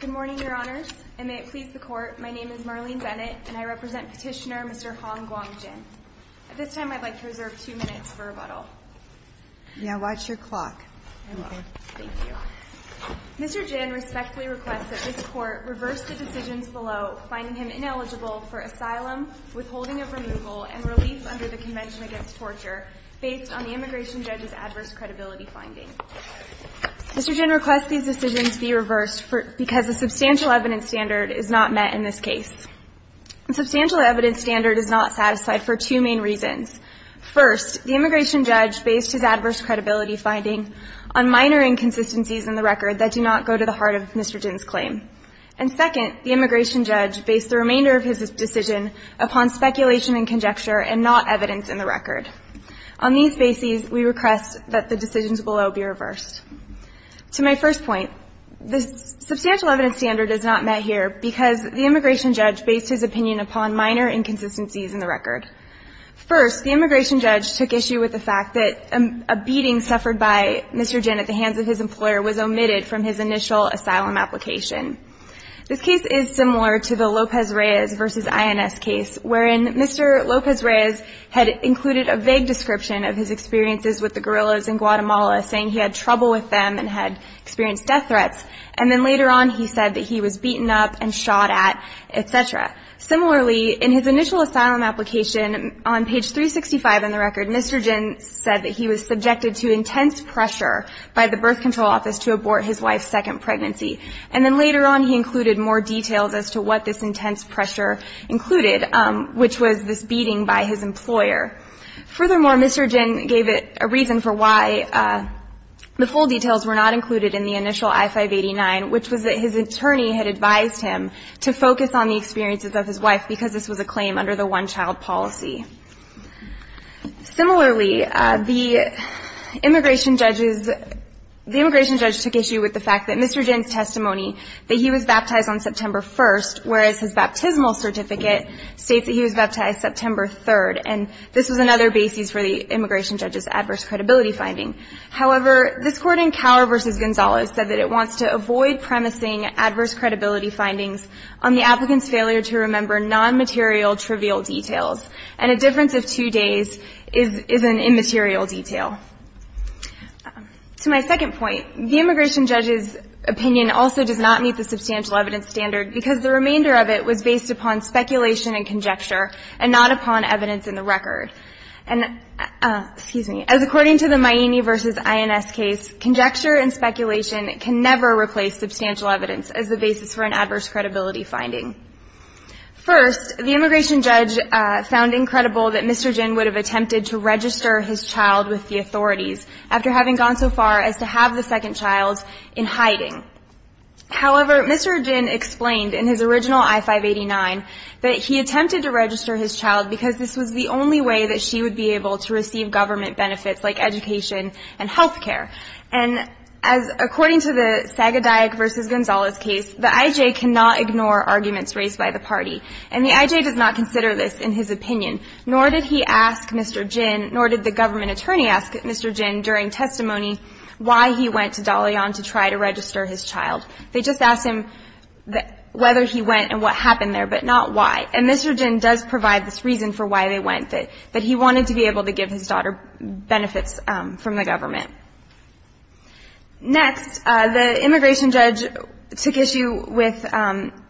Good morning, Your Honors, and may it please the Court, my name is Marlene Bennett and I represent Petitioner Mr. Hong Guang Jin. At this time, I'd like to reserve two minutes for rebuttal. Now watch your clock. I will. Thank you. Mr. Jin respectfully requests that this Court reverse the decisions below, finding him ineligible for asylum, withholding of removal, and relief under the Convention Against Torture, based on the immigration judge's adverse credibility finding. Mr. Jin requests these decisions be reversed because a substantial evidence standard is not met in this case. A substantial evidence standard is not satisfied for two main reasons. First, the immigration judge based his adverse credibility finding on minor inconsistencies in the record that do not go to the heart of Mr. Jin's claim. And second, the immigration judge based the remainder of his decision upon speculation and conjecture and not evidence in the record. On these bases, we request that the decisions below be reversed. To my first point, the substantial evidence standard is not met here because the immigration judge based his opinion upon minor inconsistencies in the record. First, the immigration judge took issue with the fact that a beating suffered by Mr. Jin at the hands of his employer was omitted from his initial asylum application. This case is similar to the Lopez-Reyes v. INS case, wherein Mr. Lopez-Reyes had included a vague description of his experiences with the guerrillas in Guatemala, saying he had trouble with them and had experienced death threats. And then later on, he said that he was beaten up and shot at, etc. Similarly, in his initial asylum application, on page by the birth control office to abort his wife's second pregnancy. And then later on, he included more details as to what this intense pressure included, which was this beating by his employer. Furthermore, Mr. Jin gave it a reason for why the full details were not included in the initial I-589, which was that his attorney had advised him to focus on the experiences of his wife because this was a claim under the one-child policy. Similarly, the immigration judge took issue with the fact that Mr. Jin's testimony that he was baptized on September 1st, whereas his baptismal certificate states that he was baptized September 3rd. And this was another basis for the immigration judge's adverse credibility finding. However, this court in Cower v. Gonzalez said that it wants to avoid premising adverse credibility findings on the applicant's failure to remember non-material trivial details. And a difference of two days is an immaterial detail. To my second point, the immigration judge's opinion also does not meet the substantial evidence standard because the remainder of it was based upon speculation and conjecture and not upon evidence in the record. And, excuse me, as according to the Miani v. INS case, conjecture and speculation can never replace substantial evidence as the basis for an adverse credibility finding. First, the immigration judge found incredible that Mr. Jin would have attempted to register his child with the authorities after having gone so far as to have the second child in hiding. However, Mr. Jin explained in his original I-589 that he attempted to register his child because this was the only way that she would be able to receive government benefits like education and health care. And as according to the Sagodayek v. Gonzalez case, the I.J. cannot ignore arguments raised by the party. And the I.J. does not consider this in his opinion, nor did he ask Mr. Jin, nor did the government attorney ask Mr. Jin during testimony why he went to Dalian to try to register his child. They just asked him whether he went and what happened there, but not why. And Mr. Jin does provide this reason for why they went, that he wanted to be able to give his daughter benefits from the government. Next, the immigration judge took issue with,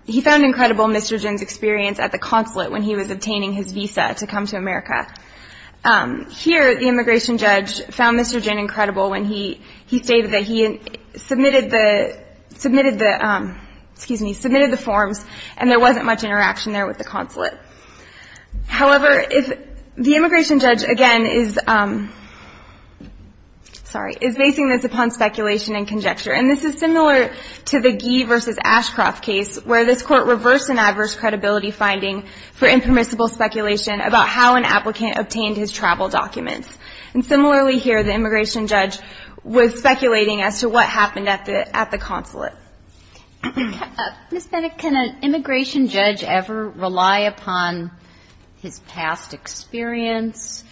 he found incredible Mr. Jin's experience at the consulate when he was obtaining his visa to come to America. Here, the immigration judge found Mr. Jin incredible when he stated that he submitted the, submitted the, excuse me, submitted the forms and there wasn't much interaction there with the consulate. However, if, the immigration judge again is, sorry, is basing this upon speculation and conjecture. And this is similar to the Gee v. Ashcroft case where this court reversed an adverse credibility finding for impermissible speculation about how an applicant obtained his travel documents. And similarly here, the immigration judge was speculating as to what happened at the consulate. Ms. Bennett, can an immigration judge ever rely upon his past experience,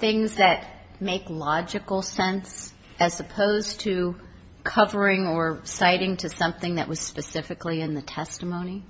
things that make logical sense as opposed to covering or citing to something that was specifically in the testimony?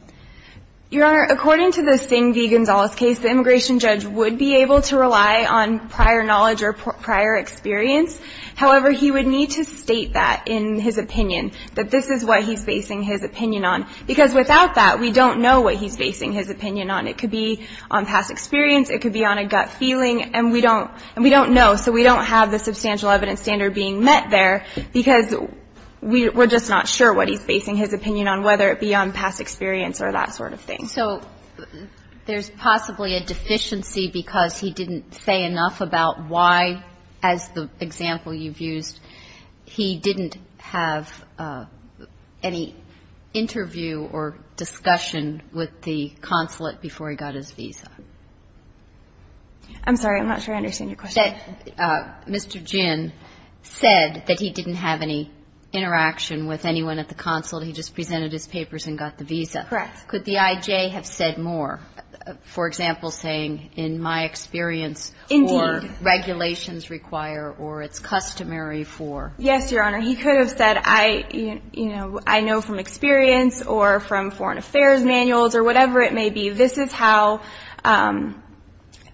Your Honor, according to the Singh v. Gonzalez case, the immigration judge would be able to rely on prior knowledge or prior experience. However, he would need to state that in his opinion, that this is what he's basing his opinion on. Because without that, we don't know what he's basing his opinion on. It could be on past experience, it could be on a gut feeling, and we don't, and we don't know. So we don't have the substantial evidence standard being met there because we're just not sure what he's basing his opinion on, whether it be on past experience or that sort of thing. So there's possibly a deficiency because he didn't say enough about why, as the example you've used, he didn't have any interview or discussion with the consulate before he got his visa. I'm sorry. I'm not sure I understand your question. Mr. Gin said that he didn't have any interaction with anyone at the consulate. He just presented his papers and got the visa. Correct. Could the I.J. have said more? For example, saying, in my experience, or regulations require or it's customary for? Yes, Your Honor. He could have said, I know from experience or from foreign affairs manuals or whatever it may be, this is how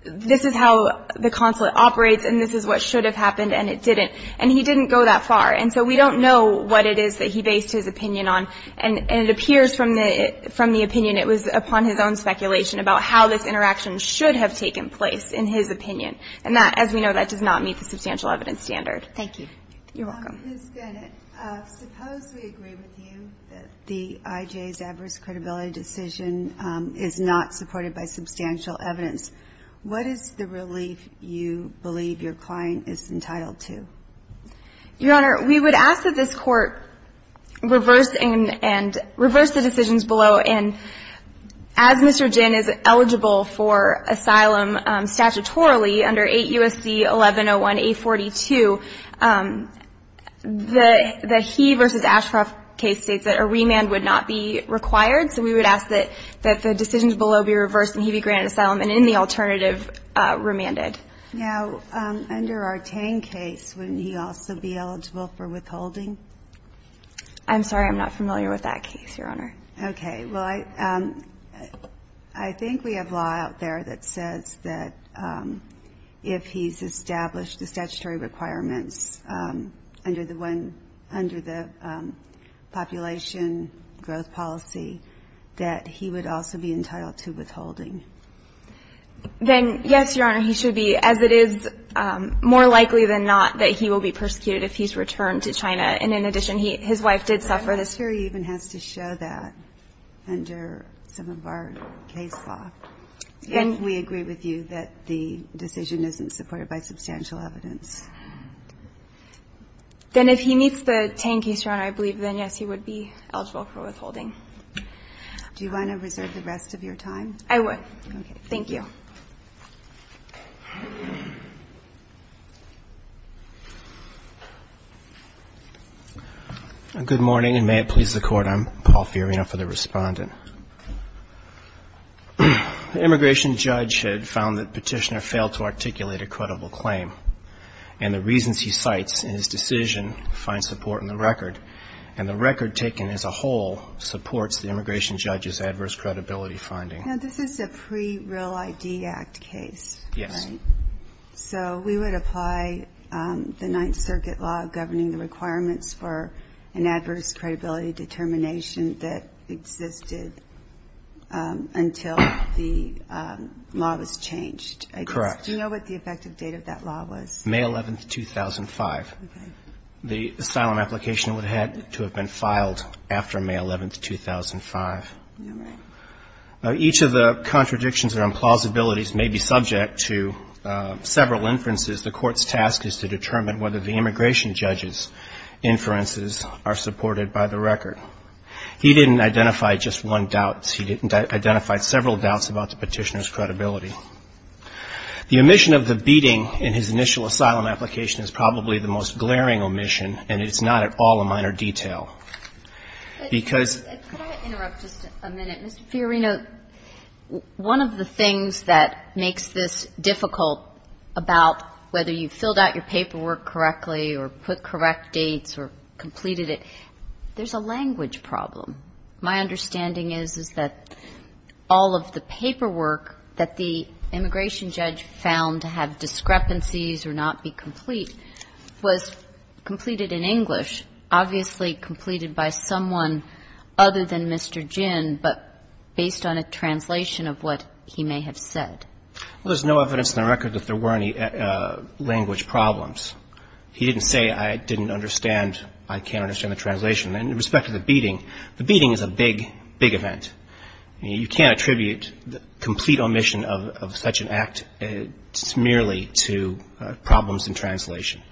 the consulate operates and this is what should have happened and it didn't. And he didn't go that far. And so we don't know what it was upon his own speculation about how this interaction should have taken place in his opinion. And that, as we know, that does not meet the substantial evidence standard. Thank you. You're welcome. Ms. Ginnett, suppose we agree with you that the I.J.'s adverse credibility decision is not supported by substantial evidence. What is the relief you believe your client is entitled to? Your Honor, we would ask that this Court reverse the decisions below. And as Mr. Ginnett is eligible for asylum statutorily under 8 U.S.C. 1101-842, the He v. Ashcroft case states that a remand would not be required. So we would ask that the decisions below be reversed and he be granted asylum and in the alternative, remanded. Now, under our Tang case, wouldn't he also be eligible for withholding? I'm sorry. I'm not familiar with that case, Your Honor. Okay. Well, I think we have law out there that says that if he's established the statutory requirements under the population growth policy, that he would also be entitled to withholding. Then, yes, Your Honor, he should be, as it is more likely than not that he will be persecuted if he's returned to China. And in addition, his wife did suffer this. The history even has to show that under some of our case law. Then we agree with you that the decision isn't supported by substantial evidence. Then if he meets the Tang case, Your Honor, I believe then, yes, he would be eligible for withholding. Do you want to reserve the rest of your time? I would. Okay. Thank you. Good morning and may it please the Court. I'm Paul Fiorina for the Respondent. The immigration judge had found that Petitioner failed to articulate a credible claim and the reasons he cites in his decision find support in the record and the record taken as a whole supports the immigration judge's adverse credibility finding. Now, this is a pre-Real ID Act case, right? Yes. So we would apply the Ninth Circuit law governing the requirements for an adverse credibility determination that existed until the law was changed, I guess. Correct. Do you know what the effective date of that law was? May 11, 2005. Okay. The asylum application would have to have been filed after May 11, 2005. All right. Now, each of the contradictions or implausibilities may be subject to several inferences. The Court's task is to determine whether the immigration judge's inferences are supported by the record. He didn't identify just one doubt. He identified several doubts about the Petitioner's credibility. The omission of the beating in his initial asylum application is probably the most glaring omission and it's not at all a minor detail. Could I interrupt just a minute? Mr. Fiorina, one of the things that makes this difficult about whether you filled out your paperwork correctly or put correct dates or completed it, there's a language problem. My understanding is, is that all of the paperwork that the immigration judge found to have discrepancies or not be complete was completed in English, obviously completed by someone other than Mr. Ginn, but based on a translation of what he may have said. Well, there's no evidence in the record that there were any language problems. He didn't say I didn't understand, I can't understand the translation. And in respect to the beating, the beating is a big, big event. You can't attribute the complete omission of such an act merely to problems in translation.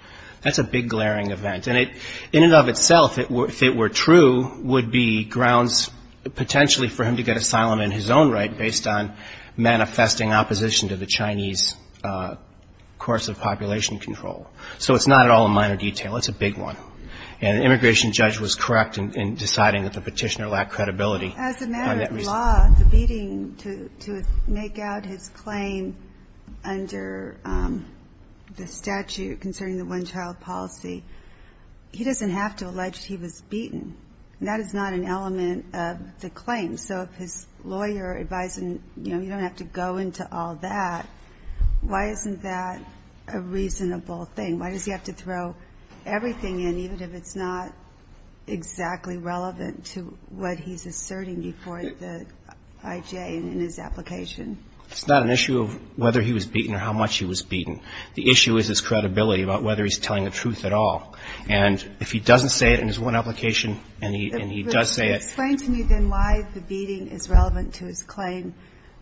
That's a big, glaring event. And in and of itself, if it were true, would be grounds potentially for him to get asylum in his own right based on manifesting opposition to the Chinese course of population control. So it's not at all a minor detail. It's a big one. And the immigration judge was correct in deciding that the petitioner lacked credibility. As a matter of law, the beating to make out his claim under the statute concerning the one-child policy, he doesn't have to allege he was beaten. That is not an element of the claim. So if his lawyer advised him, you know, you don't have to go into all that, why isn't that a reasonable thing? Why does he have to throw everything in, even if it's not exactly relevant to what he's asserting before the IJ in his application? It's not an issue of whether he was beaten or how much he was beaten. The issue is his credibility about whether he's telling the truth at all. And if he doesn't say it in his one application and he does say it. But explain to me then why the beating is relevant to his claim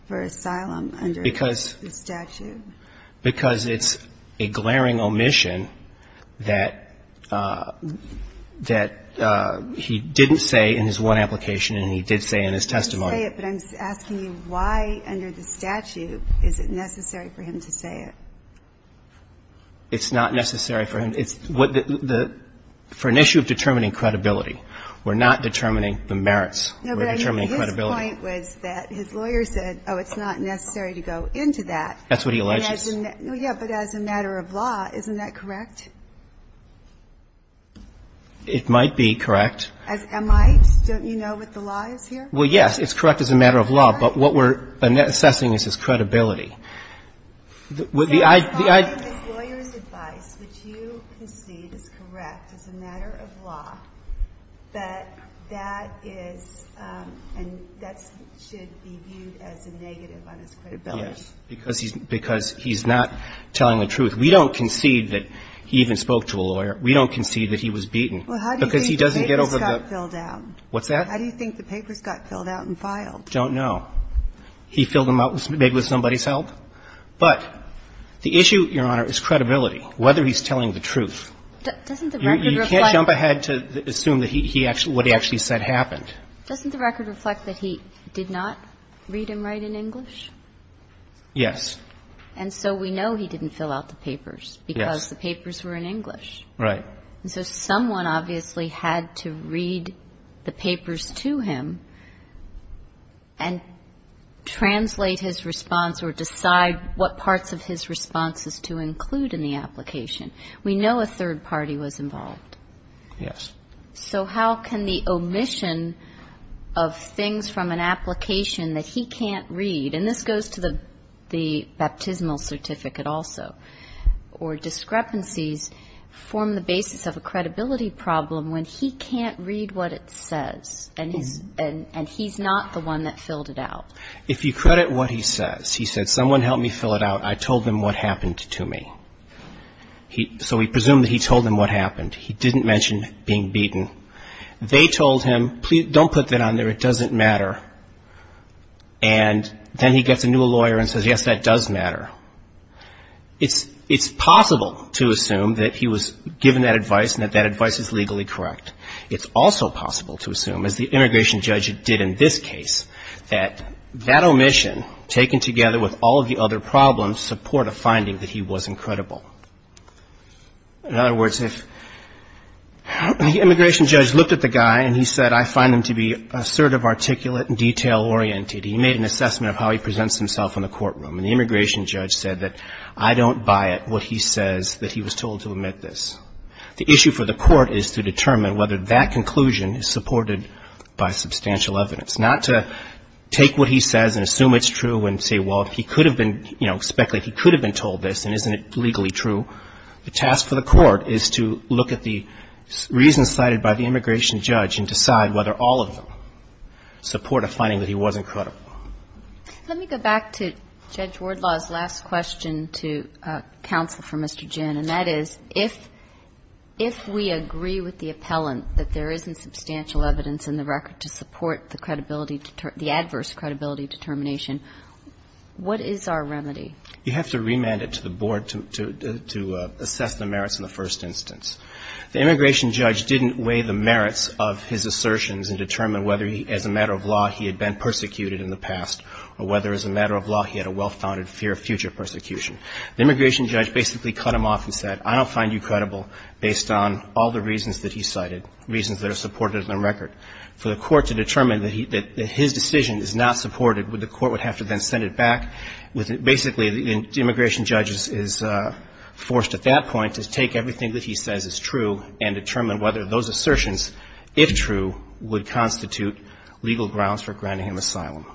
for asylum under the statute. Because it's a glaring omission that he didn't say in his one application and he did say in his testimony. He didn't say it, but I'm asking you why under the statute is it necessary for him to say it? It's not necessary for him. For an issue of determining credibility, we're not determining the merits. No, but I know his point was that his lawyer said, oh, it's not necessary to go into that. That's what he alleges. Yeah, but as a matter of law, isn't that correct? It might be correct. Am I? Don't you know what the law is here? It's not the law. It's the credibility. The lawyer's advice, which you concede is correct as a matter of law, that that is and that should be viewed as a negative on his credibility. Yes, because he's not telling the truth. We don't concede that he even spoke to a lawyer. We don't concede that he was beaten. Well, how do you think the papers got filled out? What's that? How do you think the papers got filled out and filed? I don't know. He filled them out maybe with somebody's help. But the issue, Your Honor, is credibility, whether he's telling the truth. Doesn't the record reflect? You can't jump ahead to assume that he actually – what he actually said happened. Doesn't the record reflect that he did not read and write in English? Yes. And so we know he didn't fill out the papers because the papers were in English. Right. And so someone obviously had to read the papers to him and translate his response or decide what parts of his responses to include in the application. We know a third party was involved. Yes. So how can the omission of things from an application that he can't read – and this goes to the baptismal certificate also – or discrepancies form the basis of a credibility problem when he can't read what it says and he's not the one that filled it out? If you credit what he says, he said, someone help me fill it out. I told them what happened to me. So we presume that he told them what happened. He didn't mention being beaten. They told him, don't put that on there, it doesn't matter. And then he gets a new lawyer and says, yes, that does matter. It's possible to assume that he was given that advice and that that advice is legally correct. It's also possible to assume, as the immigration judge did in this case, that that omission, taken together with all of the other problems, support a finding that he wasn't credible. In other words, if the immigration judge looked at the guy and he said, I find him to be assertive, articulate, and detail-oriented, he made an assessment of how he presents himself in the courtroom. And the immigration judge said that I don't buy it, what he says, that he was told to omit this. The issue for the court is to determine whether that conclusion is supported by substantial evidence, not to take what he says and assume it's true and say, well, he could have been, you know, speculated he could have been told this and isn't it legally true. The task for the court is to look at the reasons cited by the immigration judge and decide whether all of them support a finding that he wasn't credible. Let me go back to Judge Wardlaw's last question to counsel for Mr. Ginn. And that is, if we agree with the appellant that there isn't substantial evidence in the record to support the credibility, the adverse credibility determination, what is our remedy? You have to remand it to the board to assess the merits in the first instance. The immigration judge didn't weigh the merits of his assertions and determine whether as a matter of law he had been persecuted in the past or whether as a matter of law he had a well-founded fear of future persecution. The immigration judge basically cut him off and said, I don't find you credible based on all the reasons that he cited, reasons that are supported in the record. For the court to determine that his decision is not supported, the court would have to then send it back with basically the immigration judge is forced at that point to take everything that he says is true and determine whether those assertions, if true, would constitute legal grounds for granting him asylum.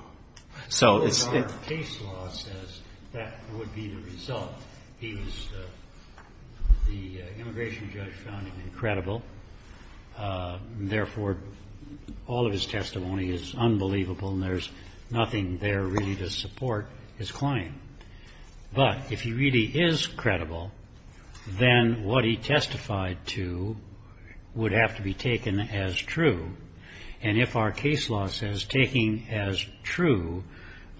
So it's the case law says that would be the result. He was the immigration judge found him incredible. Therefore, all of his testimony is unbelievable, and there's nothing there really to support his claim. But if he really is credible, then what he testified to would have to be taken as true. And if our case law says taking as true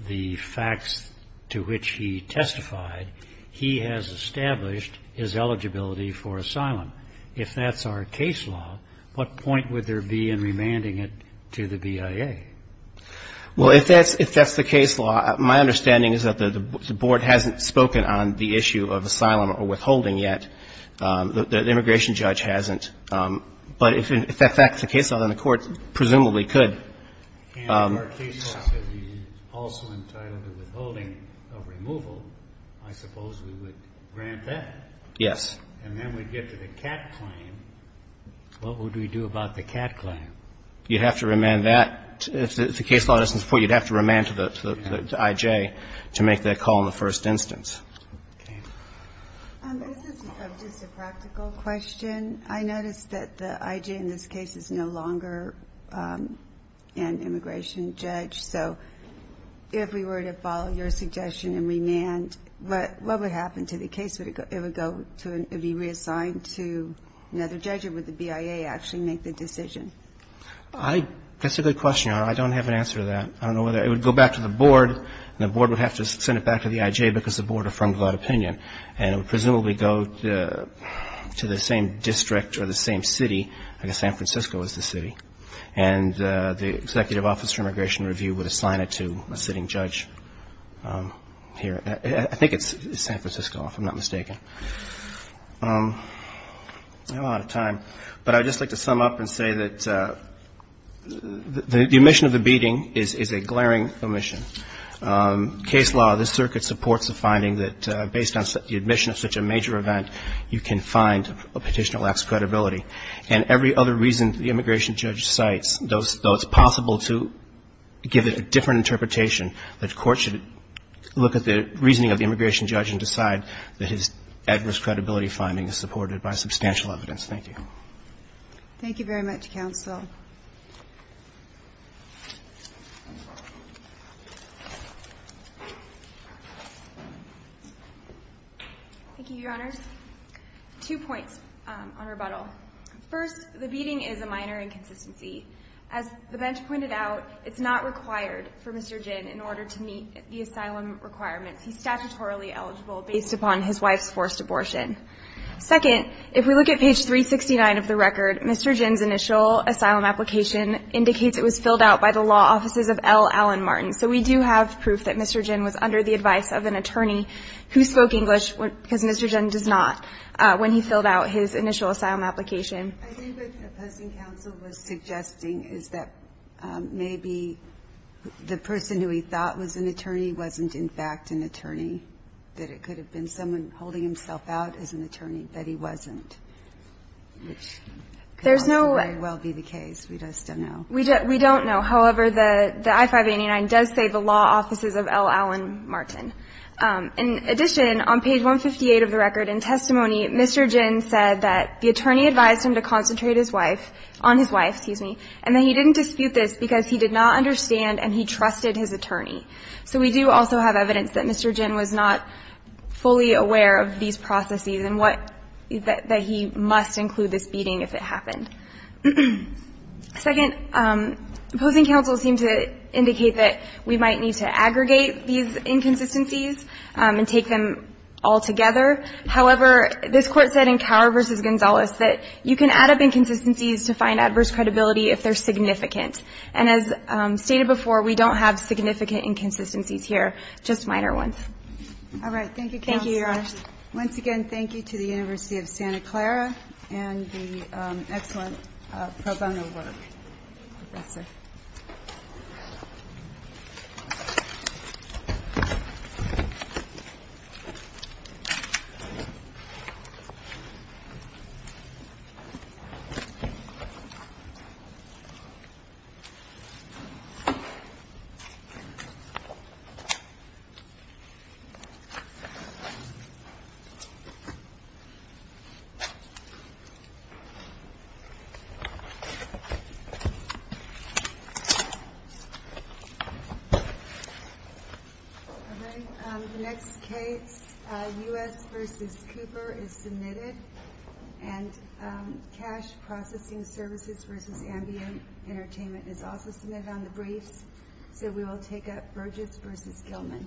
the facts to which he testified, he has established his eligibility for asylum. If that's our case law, what point would there be in remanding it to the BIA? Well, if that's the case law, my understanding is that the board hasn't spoken on the issue of asylum or withholding yet. The immigration judge hasn't. But if that's the case law, then the court presumably could. If our case law says he's also entitled to withholding of removal, I suppose we would grant that. Yes. And then we'd get to the cat claim. What would we do about the cat claim? You'd have to remand that. If the case law doesn't support it, you'd have to remand to the IJ to make that call in the first instance. Okay. This is just a practical question. I noticed that the IJ in this case is no longer an immigration judge. So if we were to follow your suggestion and remand, what would happen to the case? Would it be reassigned to another judge or would the BIA actually make the decision? That's a good question. I don't have an answer to that. I don't know whether it would go back to the board, and the board would have to send it back to the IJ because the board affirmed that opinion. And it would presumably go to the same district or the same city. I guess San Francisco is the city. And the executive office for immigration review would assign it to a sitting judge here. I think it's San Francisco, if I'm not mistaken. I'm out of time. But I'd just like to sum up and say that the omission of the beating is a glaring omission. Case law, this circuit supports the finding that based on the admission of such a major event, you can find a petitioner lacks credibility. And every other reason the immigration judge cites, though it's possible to give it a different interpretation, the court should look at the reasoning of the immigration judge and decide that his adverse credibility finding is supported by substantial evidence. Thank you. Thank you very much, counsel. Thank you, Your Honors. Two points on rebuttal. First, the beating is a minor inconsistency. As the bench pointed out, it's not required for Mr. Ginn in order to meet the asylum requirements. He's statutorily eligible based upon his wife's forced abortion. Second, if we look at page 369 of the record, Mr. Ginn's initial asylum application indicates it was filled out by the law offices of L. Allen Martin. So we do have proof that Mr. Ginn was under the advice of an attorney who spoke English, because Mr. Ginn does not, when he filled out his initial asylum application. I think what the opposing counsel was suggesting is that maybe the person who he thought was an attorney wasn't in fact an attorney, that it could have been someone holding himself out as an attorney, that he wasn't, which could very well be the case. We just don't know. We don't know. However, the I-589 does say the law offices of L. Allen Martin. In addition, on page 158 of the record in testimony, Mr. Ginn said that the attorney advised him to concentrate his wife, on his wife, excuse me, and that he didn't dispute this because he did not understand and he trusted his attorney. So we do also have evidence that Mr. Ginn was not fully aware of these processes and what, that he must include this beating if it happened. Second, opposing counsel seemed to indicate that we might need to aggregate these inconsistencies and take them all together. However, this Court said in Cower v. Gonzales that you can add up inconsistencies to find adverse credibility if they're significant. And as stated before, we don't have significant inconsistencies here, just minor ones. All right. Thank you, counsel. Thank you, Your Honor. Once again, thank you to the University of Santa Clara and the excellent pro bono work. Professor. All right. The next case, U.S. v. Cooper, is submitted. And Cash Processing Services v. Ambient Entertainment is also submitted on the briefs. So we will take up Burgess v. Gilman.